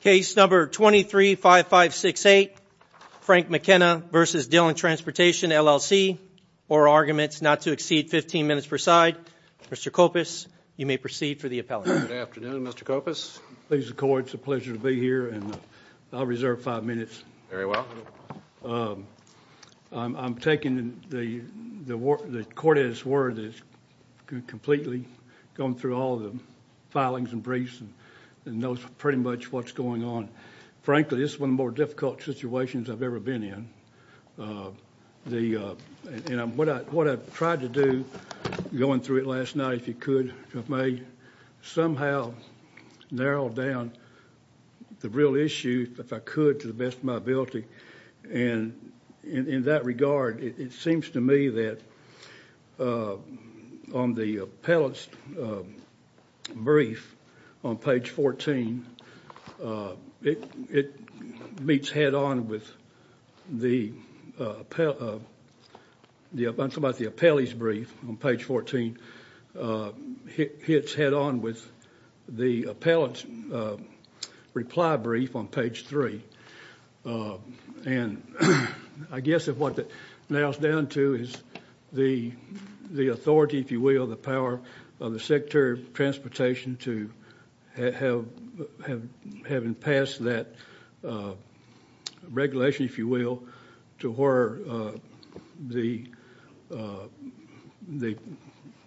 Case number 235568, Frank McKenna v. Dillon Transportation LLC, or arguments not to exceed 15 minutes per side. Mr. Kopis, you may proceed for the appellate. Good afternoon, Mr. Kopis. Ladies and cord, it's a pleasure to be here, and I'll reserve five minutes. Very well. I'm taking the court's word that it's completely gone through all the filings and briefs and knows pretty much what's going on. Frankly, this is one of the more difficult situations I've ever been in. What I tried to do going through it last night, if you could, if I may, somehow narrowed down the real issue, if I could, to the best of my ability. And in that regard, it seems to me that on the appellate's brief on page 14, it meets head-on with the appellee's brief on page 14. It hits head-on with the appellate's reply brief on page 3. And I guess what that narrows down to is the authority, if you will, the power of the Secretary of Transportation to having passed that regulation, if you will, to where the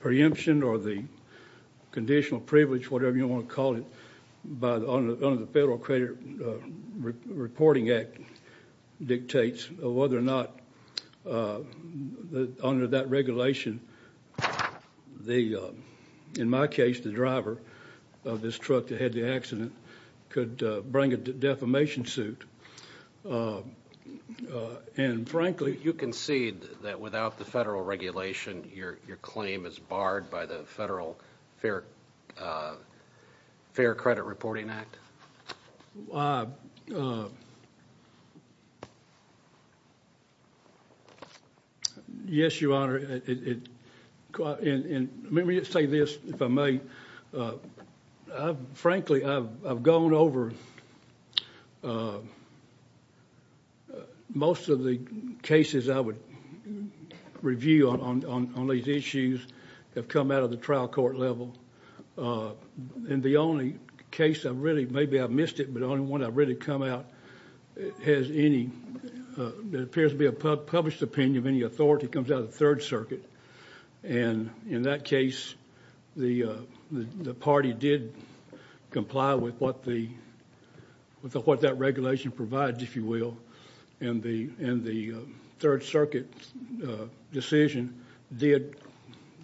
preemption or the conditional privilege, whatever you want to call it, under the Federal Credit Reporting Act dictates whether or not under that regulation, in my case, the driver of this truck that had the accident could bring a defamation suit. And frankly, you concede that without the Federal regulation, your claim is barred by the Federal Fair Credit Reporting Act? Yes, Your Honor. And let me just say this, if I may. Frankly, I've gone over most of the cases I would review on these issues that have come out of the trial court level. And the only case I've really, maybe I've missed it, but the only one I've really come out has any, there appears to be a published opinion of any authority that comes out of the Third Circuit. And in that case, the party did comply with what that regulation provides, if you will, and the Third Circuit decision did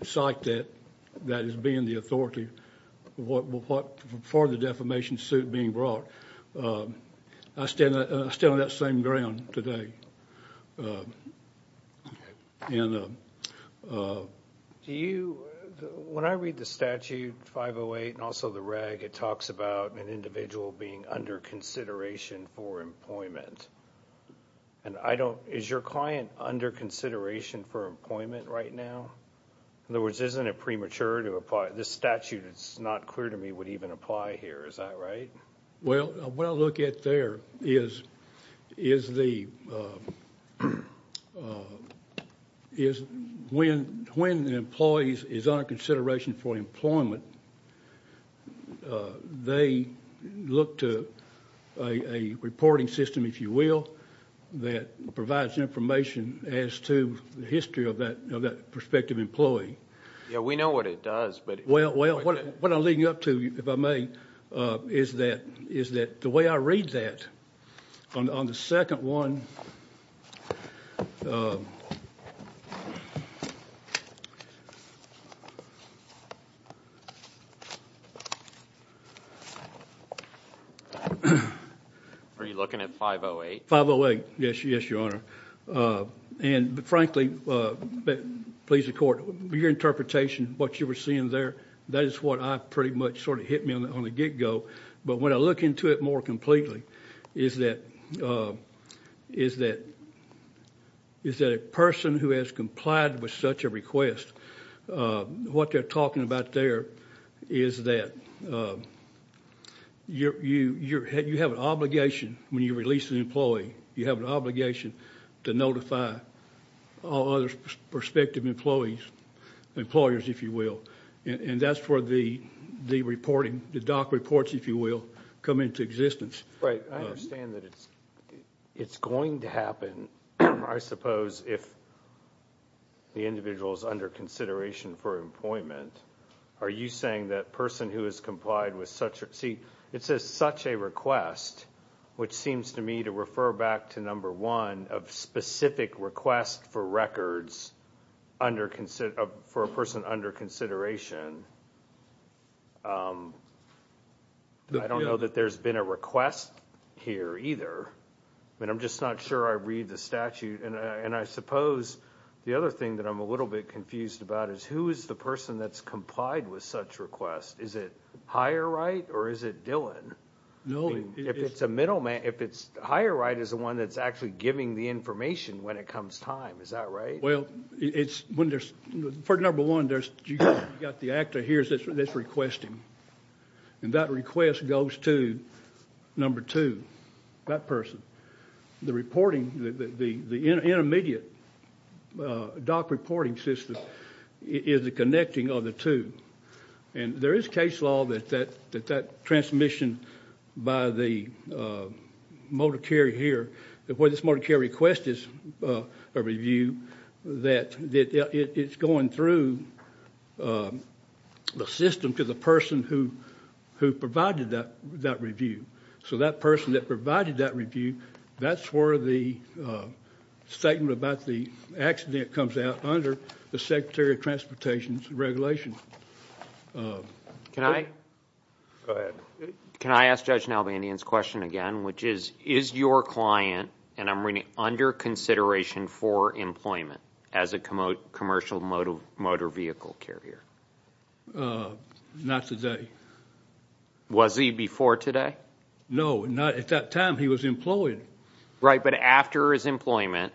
cite that as being the authority for the defamation suit being brought. I stand on that same ground today. Do you, when I read the statute 508 and also the reg, it talks about an individual being under consideration for employment. And I don't, is your client under consideration for employment right now? In other words, isn't it premature to apply, this statute is not clear to me would even apply here, is that right? Well, what I look at there is the, is when the employee is under consideration for employment, they look to a reporting system, if you will, that provides information as to the history of that prospective employee. Yeah, we know what it does. Well, what I'm leading up to, if I may, is that the way I read that on the second one. Are you looking at 508? 508, yes, Your Honor. And frankly, please, the court, your interpretation, what you were seeing there, that is what I pretty much sort of hit me on the get-go. But when I look into it more completely, is that a person who has complied with such a request, what they're talking about there is that you have an obligation when you release an employee, you have an obligation to notify all other prospective employees, employers, if you will. And that's where the reporting, the DOC reports, if you will, come into existence. Right, I understand that it's going to happen, I suppose, if the individual is under consideration for employment. Are you saying that a person who has complied with such a request, which seems to me to refer back to number one, of specific request for records for a person under consideration, I don't know that there's been a request here either. I mean, I'm just not sure I read the statute. And I suppose the other thing that I'm a little bit confused about is who is the person that's complied with such request? Is it Higher Right or is it Dillon? If it's a middleman, if it's Higher Right is the one that's actually giving the information when it comes time, is that right? Well, for number one, you've got the actor here that's requesting. And that request goes to number two, that person. The reporting, the intermediate DOC reporting system is the connecting of the two. And there is case law that that transmission by the motor carrier here, where this motor carrier request is a review, that it's going through the system to the person who provided that review. So that person that provided that review, that's where the statement about the accident comes out under the Secretary of Transportation's regulation. Can I ask Judge Nalbandian's question again, which is, is your client, and I'm reading under consideration for employment, as a commercial motor vehicle carrier? Not today. Was he before today? No, not at that time. He was employed. Right, but after his employment,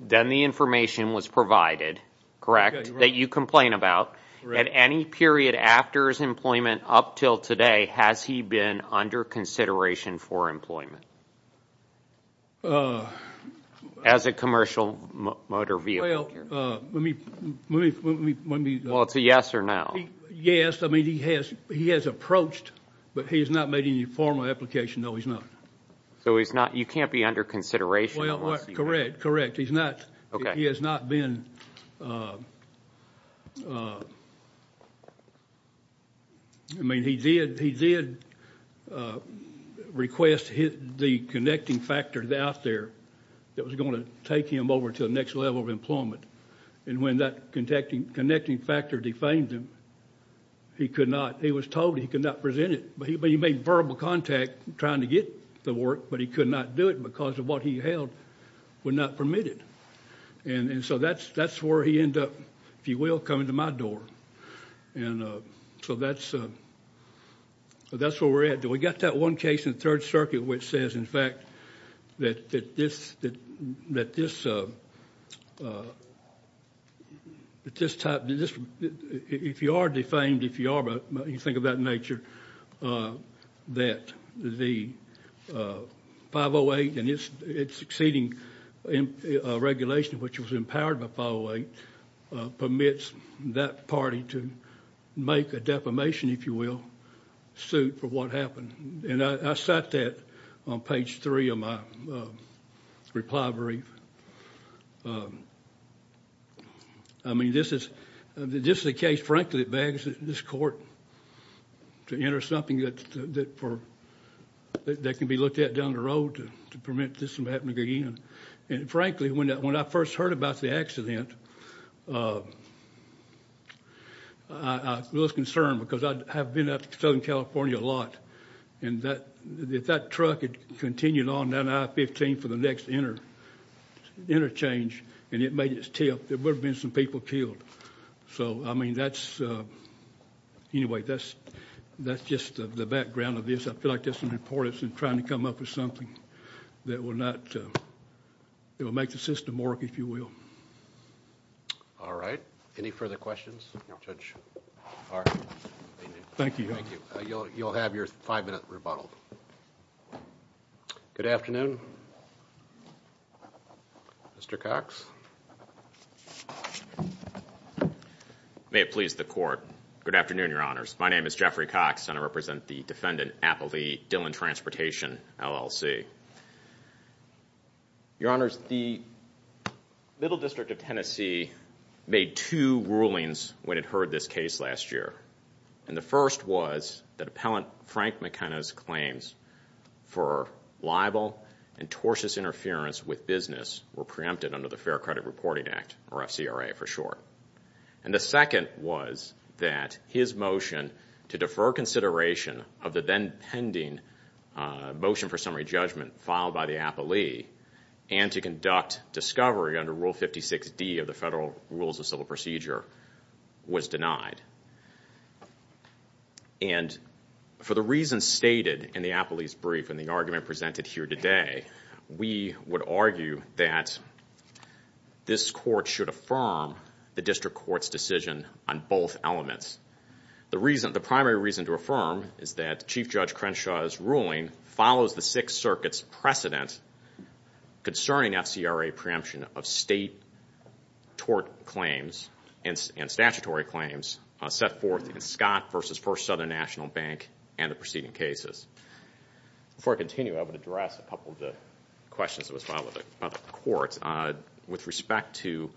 then the information was provided, correct, that you complain about. At any period after his employment up until today, has he been under consideration for employment as a commercial motor vehicle carrier? Well, let me... Well, it's a yes or no. Yes, I mean, he has approached, but he has not made any formal application, no, he's not. So he's not, you can't be under consideration? Well, correct, correct. He's not. Okay. He has not been... I mean, he did request the connecting factor out there that was going to take him over to the next level of employment. And when that connecting factor defamed him, he was told he could not present it. But he made verbal contact trying to get the work, but he could not do it because of what he held was not permitted. And so that's where he ended up, if you will, coming to my door. And so that's where we're at. We got that one case in the Third Circuit which says, in fact, that this type, if you are defamed, if you think of that nature, that the 508 and its succeeding regulation, which was empowered by 508, permits that party to make a defamation, if you will, suit for what happened. And I cite that on page three of my reply brief. I mean, this is a case, frankly, that begs this Court to enter something that can be looked at down the road to permit this from happening again. And, frankly, when I first heard about the accident, I was concerned because I have been out to Southern California a lot. And if that truck had continued on down I-15 for the next interchange and it made its tip, there would have been some people killed. So, I mean, that's just the background of this. I feel like there's some importance in trying to come up with something that will make the system work, if you will. All right. Any further questions? No, Judge. All right. Thank you. Thank you. You'll have your five-minute rebuttal. Good afternoon. Mr. Cox. May it please the Court. Good afternoon, Your Honors. My name is Jeffrey Cox, and I represent the Defendant Appellee Dillon Transportation, LLC. Your Honors, the Middle District of Tennessee made two rulings when it heard this case last year. And the first was that Appellant Frank McKenna's claims for libel and tortuous interference with business were preempted under the Fair Credit Reporting Act, or FCRA for short. And the second was that his motion to defer consideration of the then pending motion for summary judgment filed by the appellee and to conduct discovery under Rule 56D of the Federal Rules of Civil Procedure was denied. And for the reasons stated in the appellee's brief and the argument presented here today, we would argue that this Court should affirm the District Court's decision on both elements. The primary reason to affirm is that Chief Judge Crenshaw's ruling follows the Sixth Circuit's precedent concerning FCRA preemption of state tort claims and statutory claims set forth in Scott v. First Southern National Bank and the preceding cases. Before I continue, I would address a couple of the questions that was filed about the Court. With respect to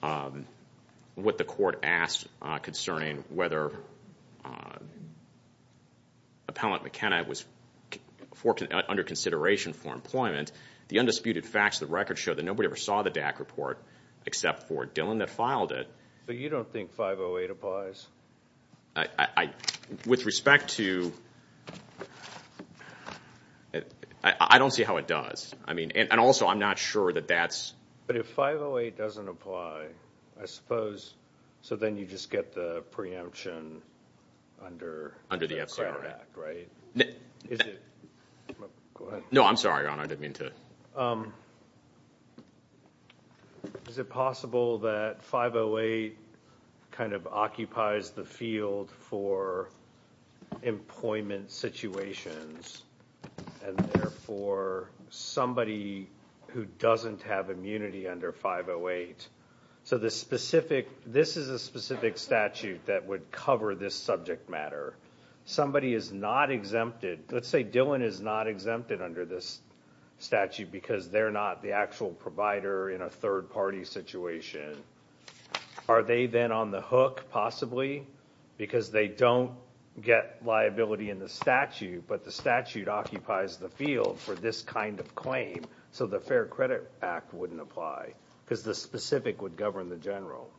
what the Court asked concerning whether Appellant McKenna was under consideration for employment, the undisputed facts of the record show that nobody ever saw the DAC report except for Dillon that filed it. So you don't think 508 applies? With respect to – I don't see how it does. I mean – and also I'm not sure that that's – But if 508 doesn't apply, I suppose – so then you just get the preemption under the FCRA Act, right? Is it – go ahead. No, I'm sorry, Your Honor. I didn't mean to – Is it possible that 508 kind of occupies the field for employment situations and therefore somebody who doesn't have immunity under 508 – so the specific – this is a specific statute that would cover this subject matter. Somebody is not exempted. Let's say Dillon is not exempted under this statute because they're not the actual provider in a third-party situation. Are they then on the hook, possibly, because they don't get liability in the statute but the statute occupies the field for this kind of claim so the Fair Credit Act wouldn't apply because the specific would govern the general?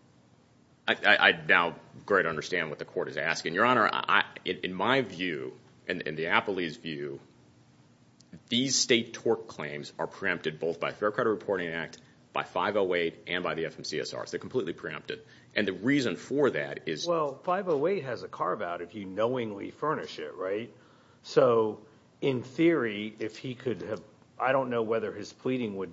I now greatly understand what the Court is asking. And, Your Honor, in my view, in the appellee's view, these state tort claims are preempted both by Fair Credit Reporting Act, by 508, and by the FMCSR. They're completely preempted. And the reason for that is – Well, 508 has a carve-out if you knowingly furnish it, right? So in theory, if he could have – I don't know whether his pleading would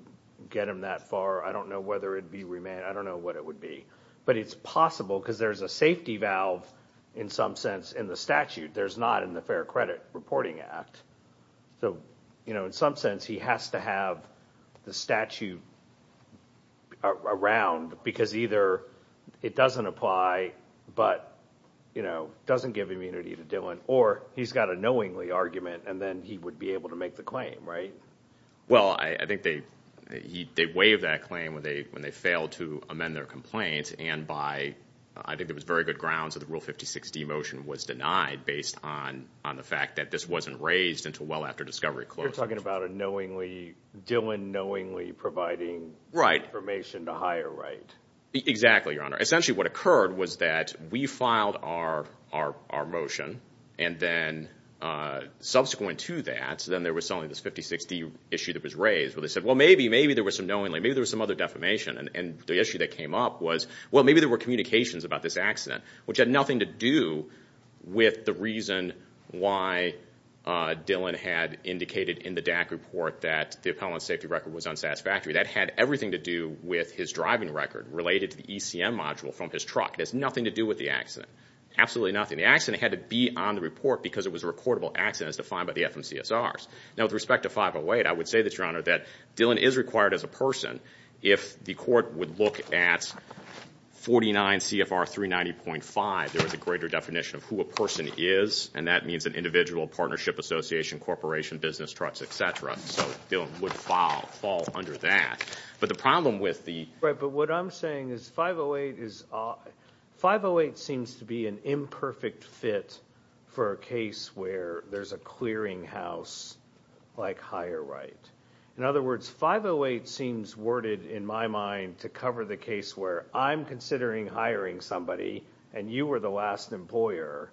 get him that far. I don't know whether it would be remand. I don't know what it would be. But it's possible because there's a safety valve, in some sense, in the statute. There's not in the Fair Credit Reporting Act. So, you know, in some sense, he has to have the statute around because either it doesn't apply but, you know, doesn't give immunity to Dillon or he's got a knowingly argument and then he would be able to make the claim, right? Well, I think they waived that claim when they failed to amend their complaint and by – I think there was very good grounds that the Rule 56D motion was denied based on the fact that this wasn't raised until well after discovery closed. You're talking about a Dillon knowingly providing information to hire, right? Exactly, Your Honor. Essentially, what occurred was that we filed our motion and then subsequent to that, so then there was suddenly this 56D issue that was raised where they said, well, maybe, maybe there was some knowingly, maybe there was some other defamation. And the issue that came up was, well, maybe there were communications about this accident, which had nothing to do with the reason why Dillon had indicated in the DAC report that the appellant's safety record was unsatisfactory. That had everything to do with his driving record related to the ECM module from his truck. It has nothing to do with the accident, absolutely nothing. The accident had to be on the report because it was a recordable accident as defined by the FMCSRs. Now, with respect to 508, I would say that, Your Honor, that Dillon is required as a person if the court would look at 49 CFR 390.5, there was a greater definition of who a person is, and that means an individual, partnership, association, corporation, business, trucks, et cetera. So Dillon would fall under that. But the problem with the – Right, but what I'm saying is 508 is – 508 seems to be an imperfect fit for a case where there's a clearinghouse-like hire right. In other words, 508 seems worded in my mind to cover the case where I'm considering hiring somebody and you were the last employer,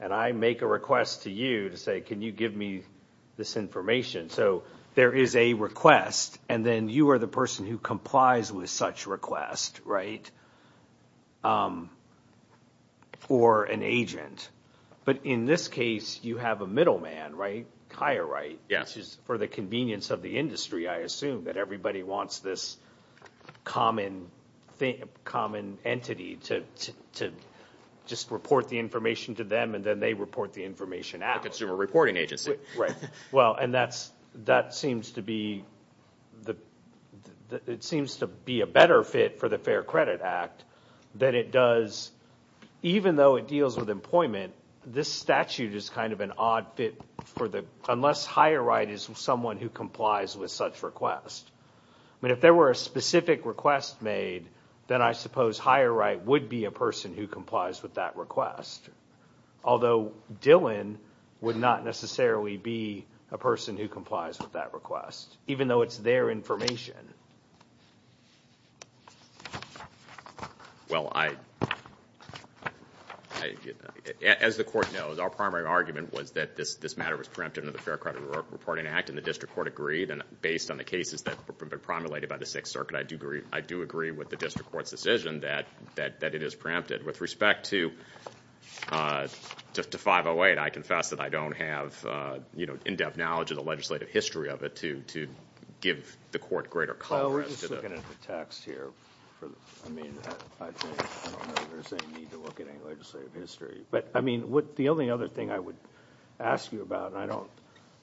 and I make a request to you to say, can you give me this information? So there is a request, and then you are the person who complies with such request, right, for an agent. But in this case, you have a middle man, right, hire right, which is for the convenience of the industry, I assume, that everybody wants this common entity to just report the information to them, and then they report the information out. A consumer reporting agency. Right. Well, and that seems to be a better fit for the Fair Credit Act than it does – even though it deals with employment, this statute is kind of an odd fit for the – unless hire right is someone who complies with such request. I mean, if there were a specific request made, then I suppose hire right would be a person who complies with that request, although Dillon would not necessarily be a person who complies with that request, even though it's their information. Well, as the Court knows, our primary argument was that this matter was preempted under the Fair Credit Reporting Act, and the District Court agreed, and based on the cases that have been promulgated by the Sixth Circuit, I do agree with the District Court's decision that it is preempted. With respect to 508, I confess that I don't have, you know, in-depth knowledge of the legislative history of it to give the Court greater coverage. Well, we're just looking at the text here. I mean, I don't know that there's any need to look at any legislative history. But, I mean, the only other thing I would ask you about, and I don't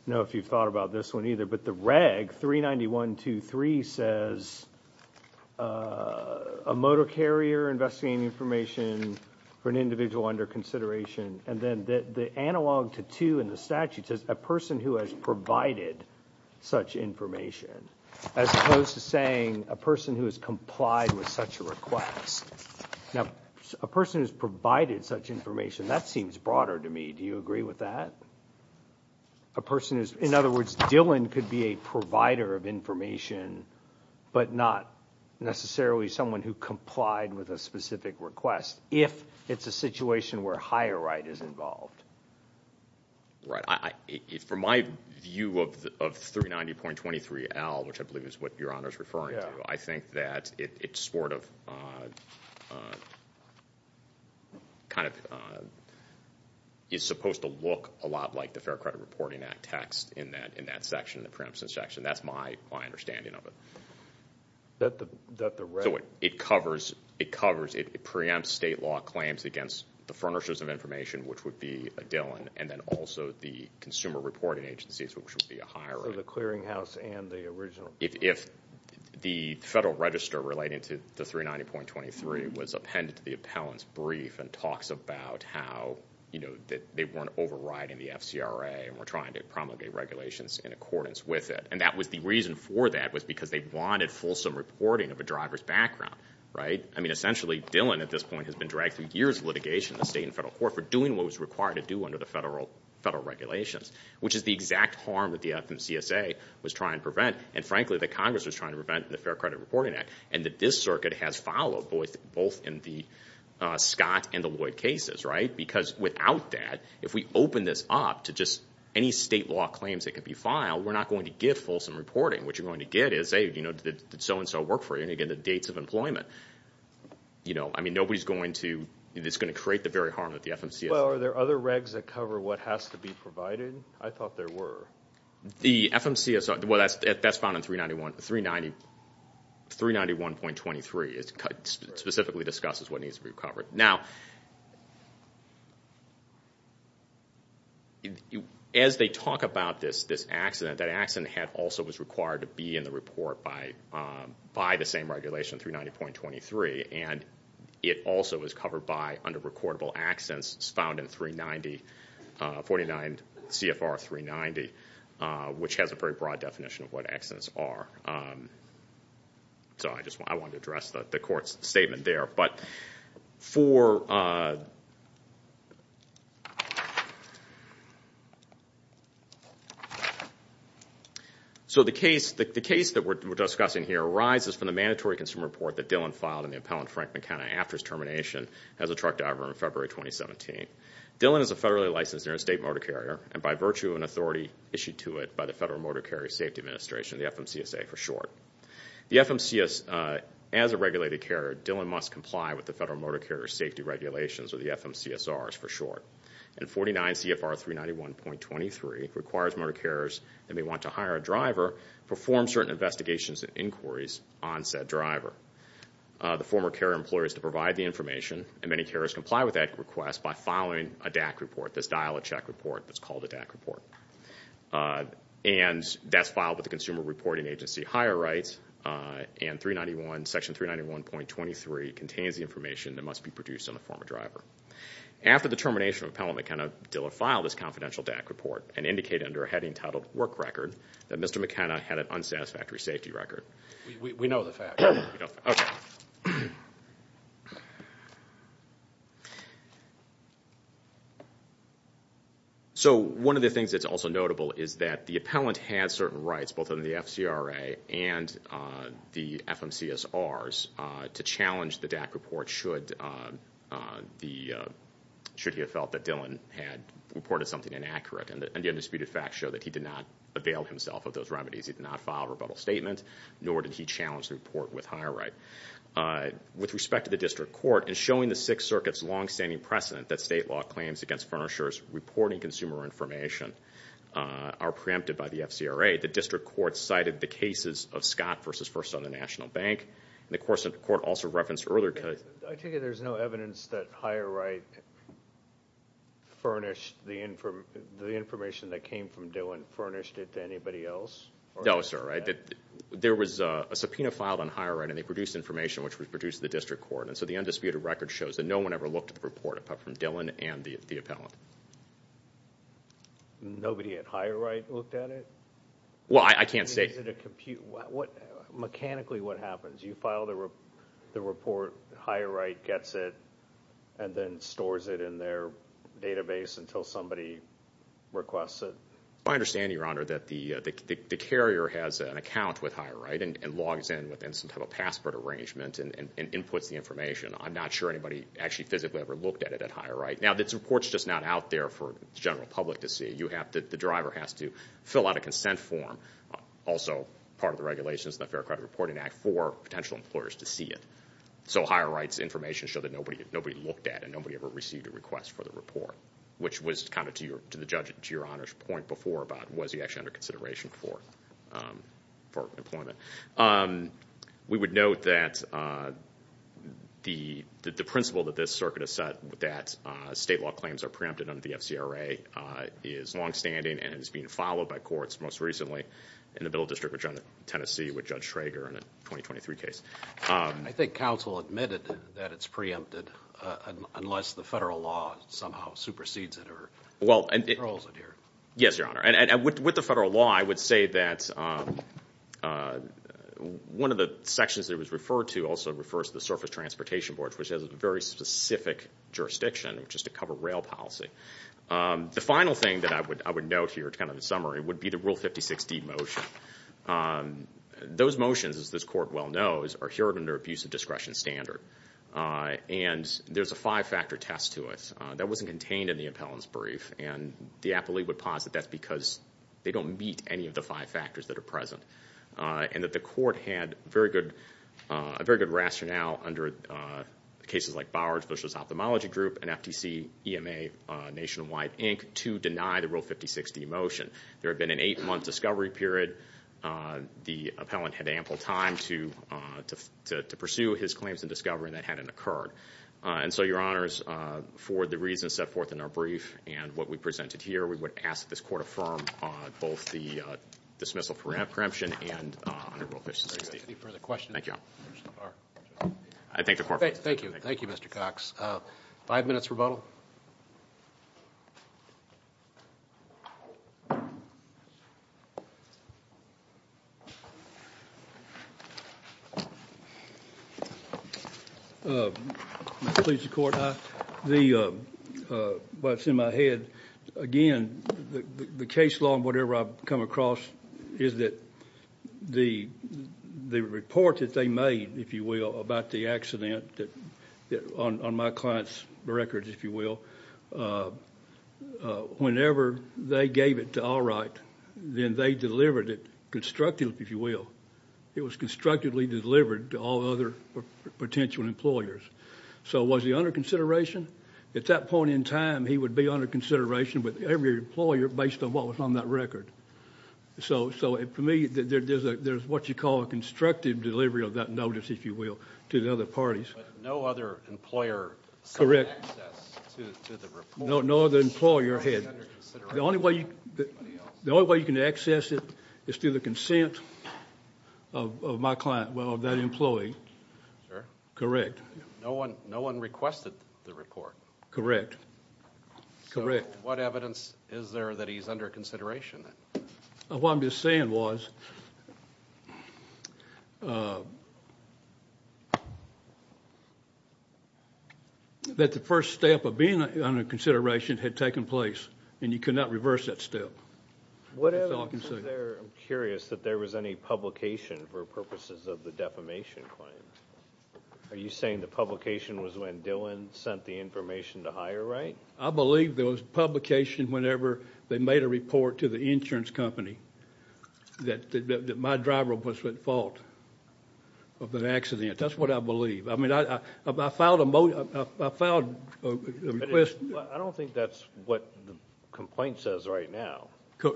know if you've thought about this one either, but the reg 391.23 says, a motor carrier investigating information for an individual under consideration, and then the analog to 2 in the statute says, a person who has provided such information, as opposed to saying a person who has complied with such a request. Now, a person who's provided such information, that seems broader to me. Do you agree with that? A person who's, in other words, Dillon could be a provider of information, but not necessarily someone who complied with a specific request, if it's a situation where higher right is involved. Right. From my view of 390.23L, which I believe is what Your Honor is referring to, I think that it sort of kind of is supposed to look a lot like the Fair Credit Reporting Act text in that section, the preemption section. That's my understanding of it. So it covers, it preempts state law claims against the furnishers of information, which would be a Dillon, and then also the consumer reporting agencies, which would be a higher right. So the clearinghouse and the original. If the federal register relating to the 390.23 was appended to the appellant's brief and talks about how, you know, that they weren't overriding the FCRA and were trying to promulgate regulations in accordance with it, and that was the reason for that was because they wanted fulsome reporting of a driver's background, right? I mean, essentially, Dillon at this point has been dragged through years of litigation in the state and federal court for doing what was required to do under the federal regulations, which is the exact harm that the FMCSA was trying to prevent, and frankly that Congress was trying to prevent in the Fair Credit Reporting Act, and that this circuit has followed both in the Scott and the Lloyd cases, right? Because without that, if we open this up to just any state law claims that could be filed, we're not going to get fulsome reporting. What you're going to get is, hey, you know, did so-and-so work for you? And again, the dates of employment. You know, I mean, nobody's going to, it's going to create the very harm that the FMCSA. Well, are there other regs that cover what has to be provided? I thought there were. The FMCSA, well, that's found in 391.23. It specifically discusses what needs to be covered. Now, as they talk about this accident, that accident also was required to be in the report by the same regulation, 390.23, and it also is covered by under recordable accidents found in 390, 49 CFR 390, which has a very broad definition of what accidents are. So I just wanted to address the court's statement there. But for, so the case that we're discussing here arises from the mandatory consumer report that Dillon filed on the appellant, Frank McKenna, after his termination as a truck driver in February 2017. Dillon is a federally licensed interstate motor carrier, and by virtue of an authority issued to it by the Federal Motor Carrier Safety Administration, the FMCSA for short. The FMCSA, as a regulated carrier, Dillon must comply with the Federal Motor Carrier Safety Regulations, or the FMCSRs for short. And 49 CFR 391.23 requires motor carriers that may want to hire a driver, perform certain investigations and inquiries on said driver. The former carrier employs to provide the information, and many carriers comply with that request by filing a DAC report, this dial-a-check report that's called a DAC report. And that's filed with the Consumer Reporting Agency higher rights, and section 391.23 contains the information that must be produced on the former driver. After the termination of appellant McKenna, Dillon filed this confidential DAC report and indicated under a heading titled work record that Mr. McKenna had an unsatisfactory safety record. We know the fact. Okay. So one of the things that's also notable is that the appellant had certain rights, both under the FCRA and the FMCSRs, to challenge the DAC report should he have felt that Dillon had reported something inaccurate. And the undisputed facts show that he did not avail himself of those remedies. He did not file a rebuttal statement, nor did he challenge the report with higher right. With respect to the district court, in showing the Sixth Circuit's long-standing precedent that state law claims against furnishers reporting consumer information are preempted by the FCRA, the district court cited the cases of Scott v. First Southern National Bank. And the court also referenced earlier. I take it there's no evidence that higher right furnished the information that came from Dillon furnished it to anybody else? No, sir. There was a subpoena filed on higher right, and they produced information which was produced in the district court. And so the undisputed record shows that no one ever looked at the report apart from Dillon and the appellant. Nobody at higher right looked at it? Well, I can't say. Is it a compute? Mechanically, what happens? You file the report, higher right gets it, and then stores it in their database until somebody requests it? I understand, Your Honor, that the carrier has an account with higher right and logs in with some type of password arrangement and inputs the information. I'm not sure anybody actually physically ever looked at it at higher right. Now, this report's just not out there for the general public to see. The driver has to fill out a consent form, also part of the regulations in the Fair Credit Reporting Act, for potential employers to see it. So higher right's information showed that nobody looked at it, nobody ever received a request for the report, which was kind of, to the judge, to Your Honor's point before about was he actually under consideration for employment. We would note that the principle that this circuit has set, that state law claims are preempted under the FCRA, is longstanding and is being followed by courts, most recently in the Middle District of Tennessee with Judge Traeger in a 2023 case. I think counsel admitted that it's preempted unless the federal law somehow supersedes it or controls it here. Yes, Your Honor. And with the federal law, I would say that one of the sections that it was referred to also refers to the Surface Transportation Board, which has a very specific jurisdiction, which is to cover rail policy. The final thing that I would note here, kind of a summary, would be the Rule 56D motion. Those motions, as this court well knows, are here under abusive discretion standard. And there's a five-factor test to it. That wasn't contained in the appellant's brief, and the appellee would posit that's because they don't meet any of the five factors that are present, and that the court had a very good rationale under cases like Bowers v. Ophthalmology Group and FTC, EMA, Nationwide, Inc., to deny the Rule 56D motion. There had been an eight-month discovery period. The appellant had ample time to pursue his claims in discovery, and that hadn't occurred. And so, Your Honors, for the reasons set forth in our brief and what we presented here, we would ask that this court affirm both the dismissal of preemption and under Rule 56D. Any further questions? Thank you. I thank the court. Thank you. Thank you, Mr. Cox. Five minutes rebuttal. Please, Your Court. What's in my head, again, the case law and whatever I've come across is that the report that they made, if you will, about the accident on my client's records, if you will, whenever they gave it to Allwright, then they delivered it constructively, if you will. It was constructively delivered to all other potential employers. So was he under consideration? At that point in time, he would be under consideration with every employer based on what was on that record. So, for me, there's what you call a constructive delivery of that notice, if you will, to the other parties. But no other employer had access to the report? No, no other employer had. The only way you can access it is through the consent of my client, well, of that employee. Sir? Correct. No one requested the report? Correct. So what evidence is there that he's under consideration? What I'm just saying was that the first step of being under consideration had taken place, and you could not reverse that step. What evidence is there, I'm curious, that there was any publication for purposes of the defamation claim? Are you saying the publication was when Dillon sent the information to HireRight? I believe there was publication whenever they made a report to the insurance company that my driver was at fault of an accident. That's what I believe. I mean, I filed a request. I don't think that's what the complaint says right now.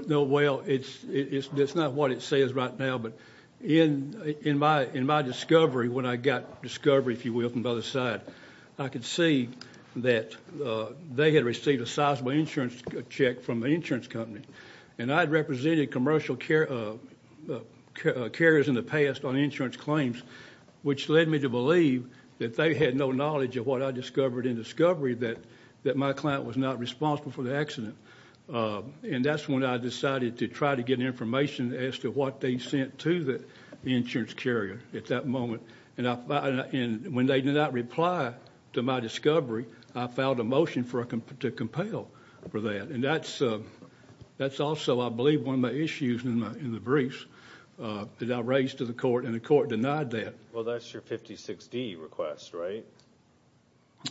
No, well, it's not what it says right now, but in my discovery when I got discovery, if you will, from the other side, I could see that they had received a sizable insurance check from the insurance company, and I had represented commercial carriers in the past on insurance claims, which led me to believe that they had no knowledge of what I discovered in discovery, that my client was not responsible for the accident. And that's when I decided to try to get information as to what they sent to the insurance carrier at that moment. And when they did not reply to my discovery, I filed a motion to compel for that. And that's also, I believe, one of my issues in the briefs that I raised to the court, and the court denied that. Well, that's your 56D request, right?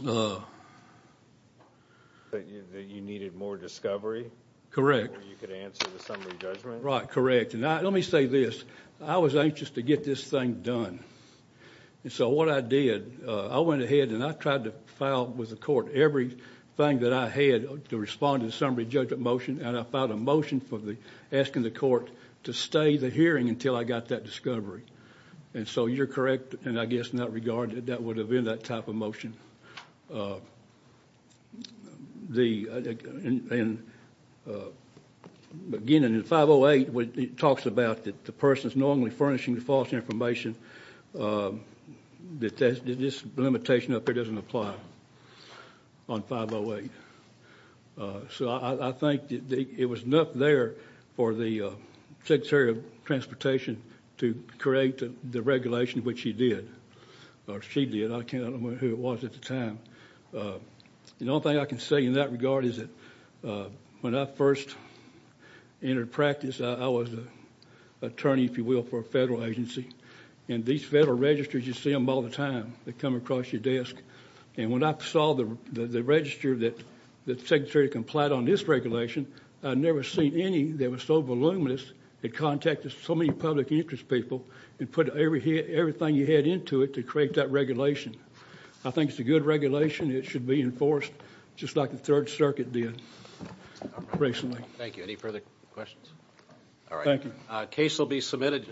That you needed more discovery? Where you could answer the summary judgment? Right, correct. And let me say this. I was anxious to get this thing done. And so what I did, I went ahead and I tried to file with the court everything that I had to respond to the summary judgment motion, and I filed a motion asking the court to stay the hearing until I got that discovery. And so you're correct, and I guess in that regard, that would have been that type of motion. Again, in 508, it talks about that the person is normally furnishing the false information, that this limitation up here doesn't apply on 508. So I think it was enough there for the Secretary of Transportation to create the regulation, which she did. I can't remember who it was at the time. The only thing I can say in that regard is that when I first entered practice, I was an attorney, if you will, for a federal agency. And these federal registers, you see them all the time. They come across your desk. And when I saw the register that the Secretary complied on this regulation, I'd never seen any that was so voluminous. It contacted so many public interest people. It put everything you had into it to create that regulation. I think it's a good regulation. It should be enforced just like the Third Circuit did recently. Thank you. Any further questions? All right. Thank you. Case will be submitted.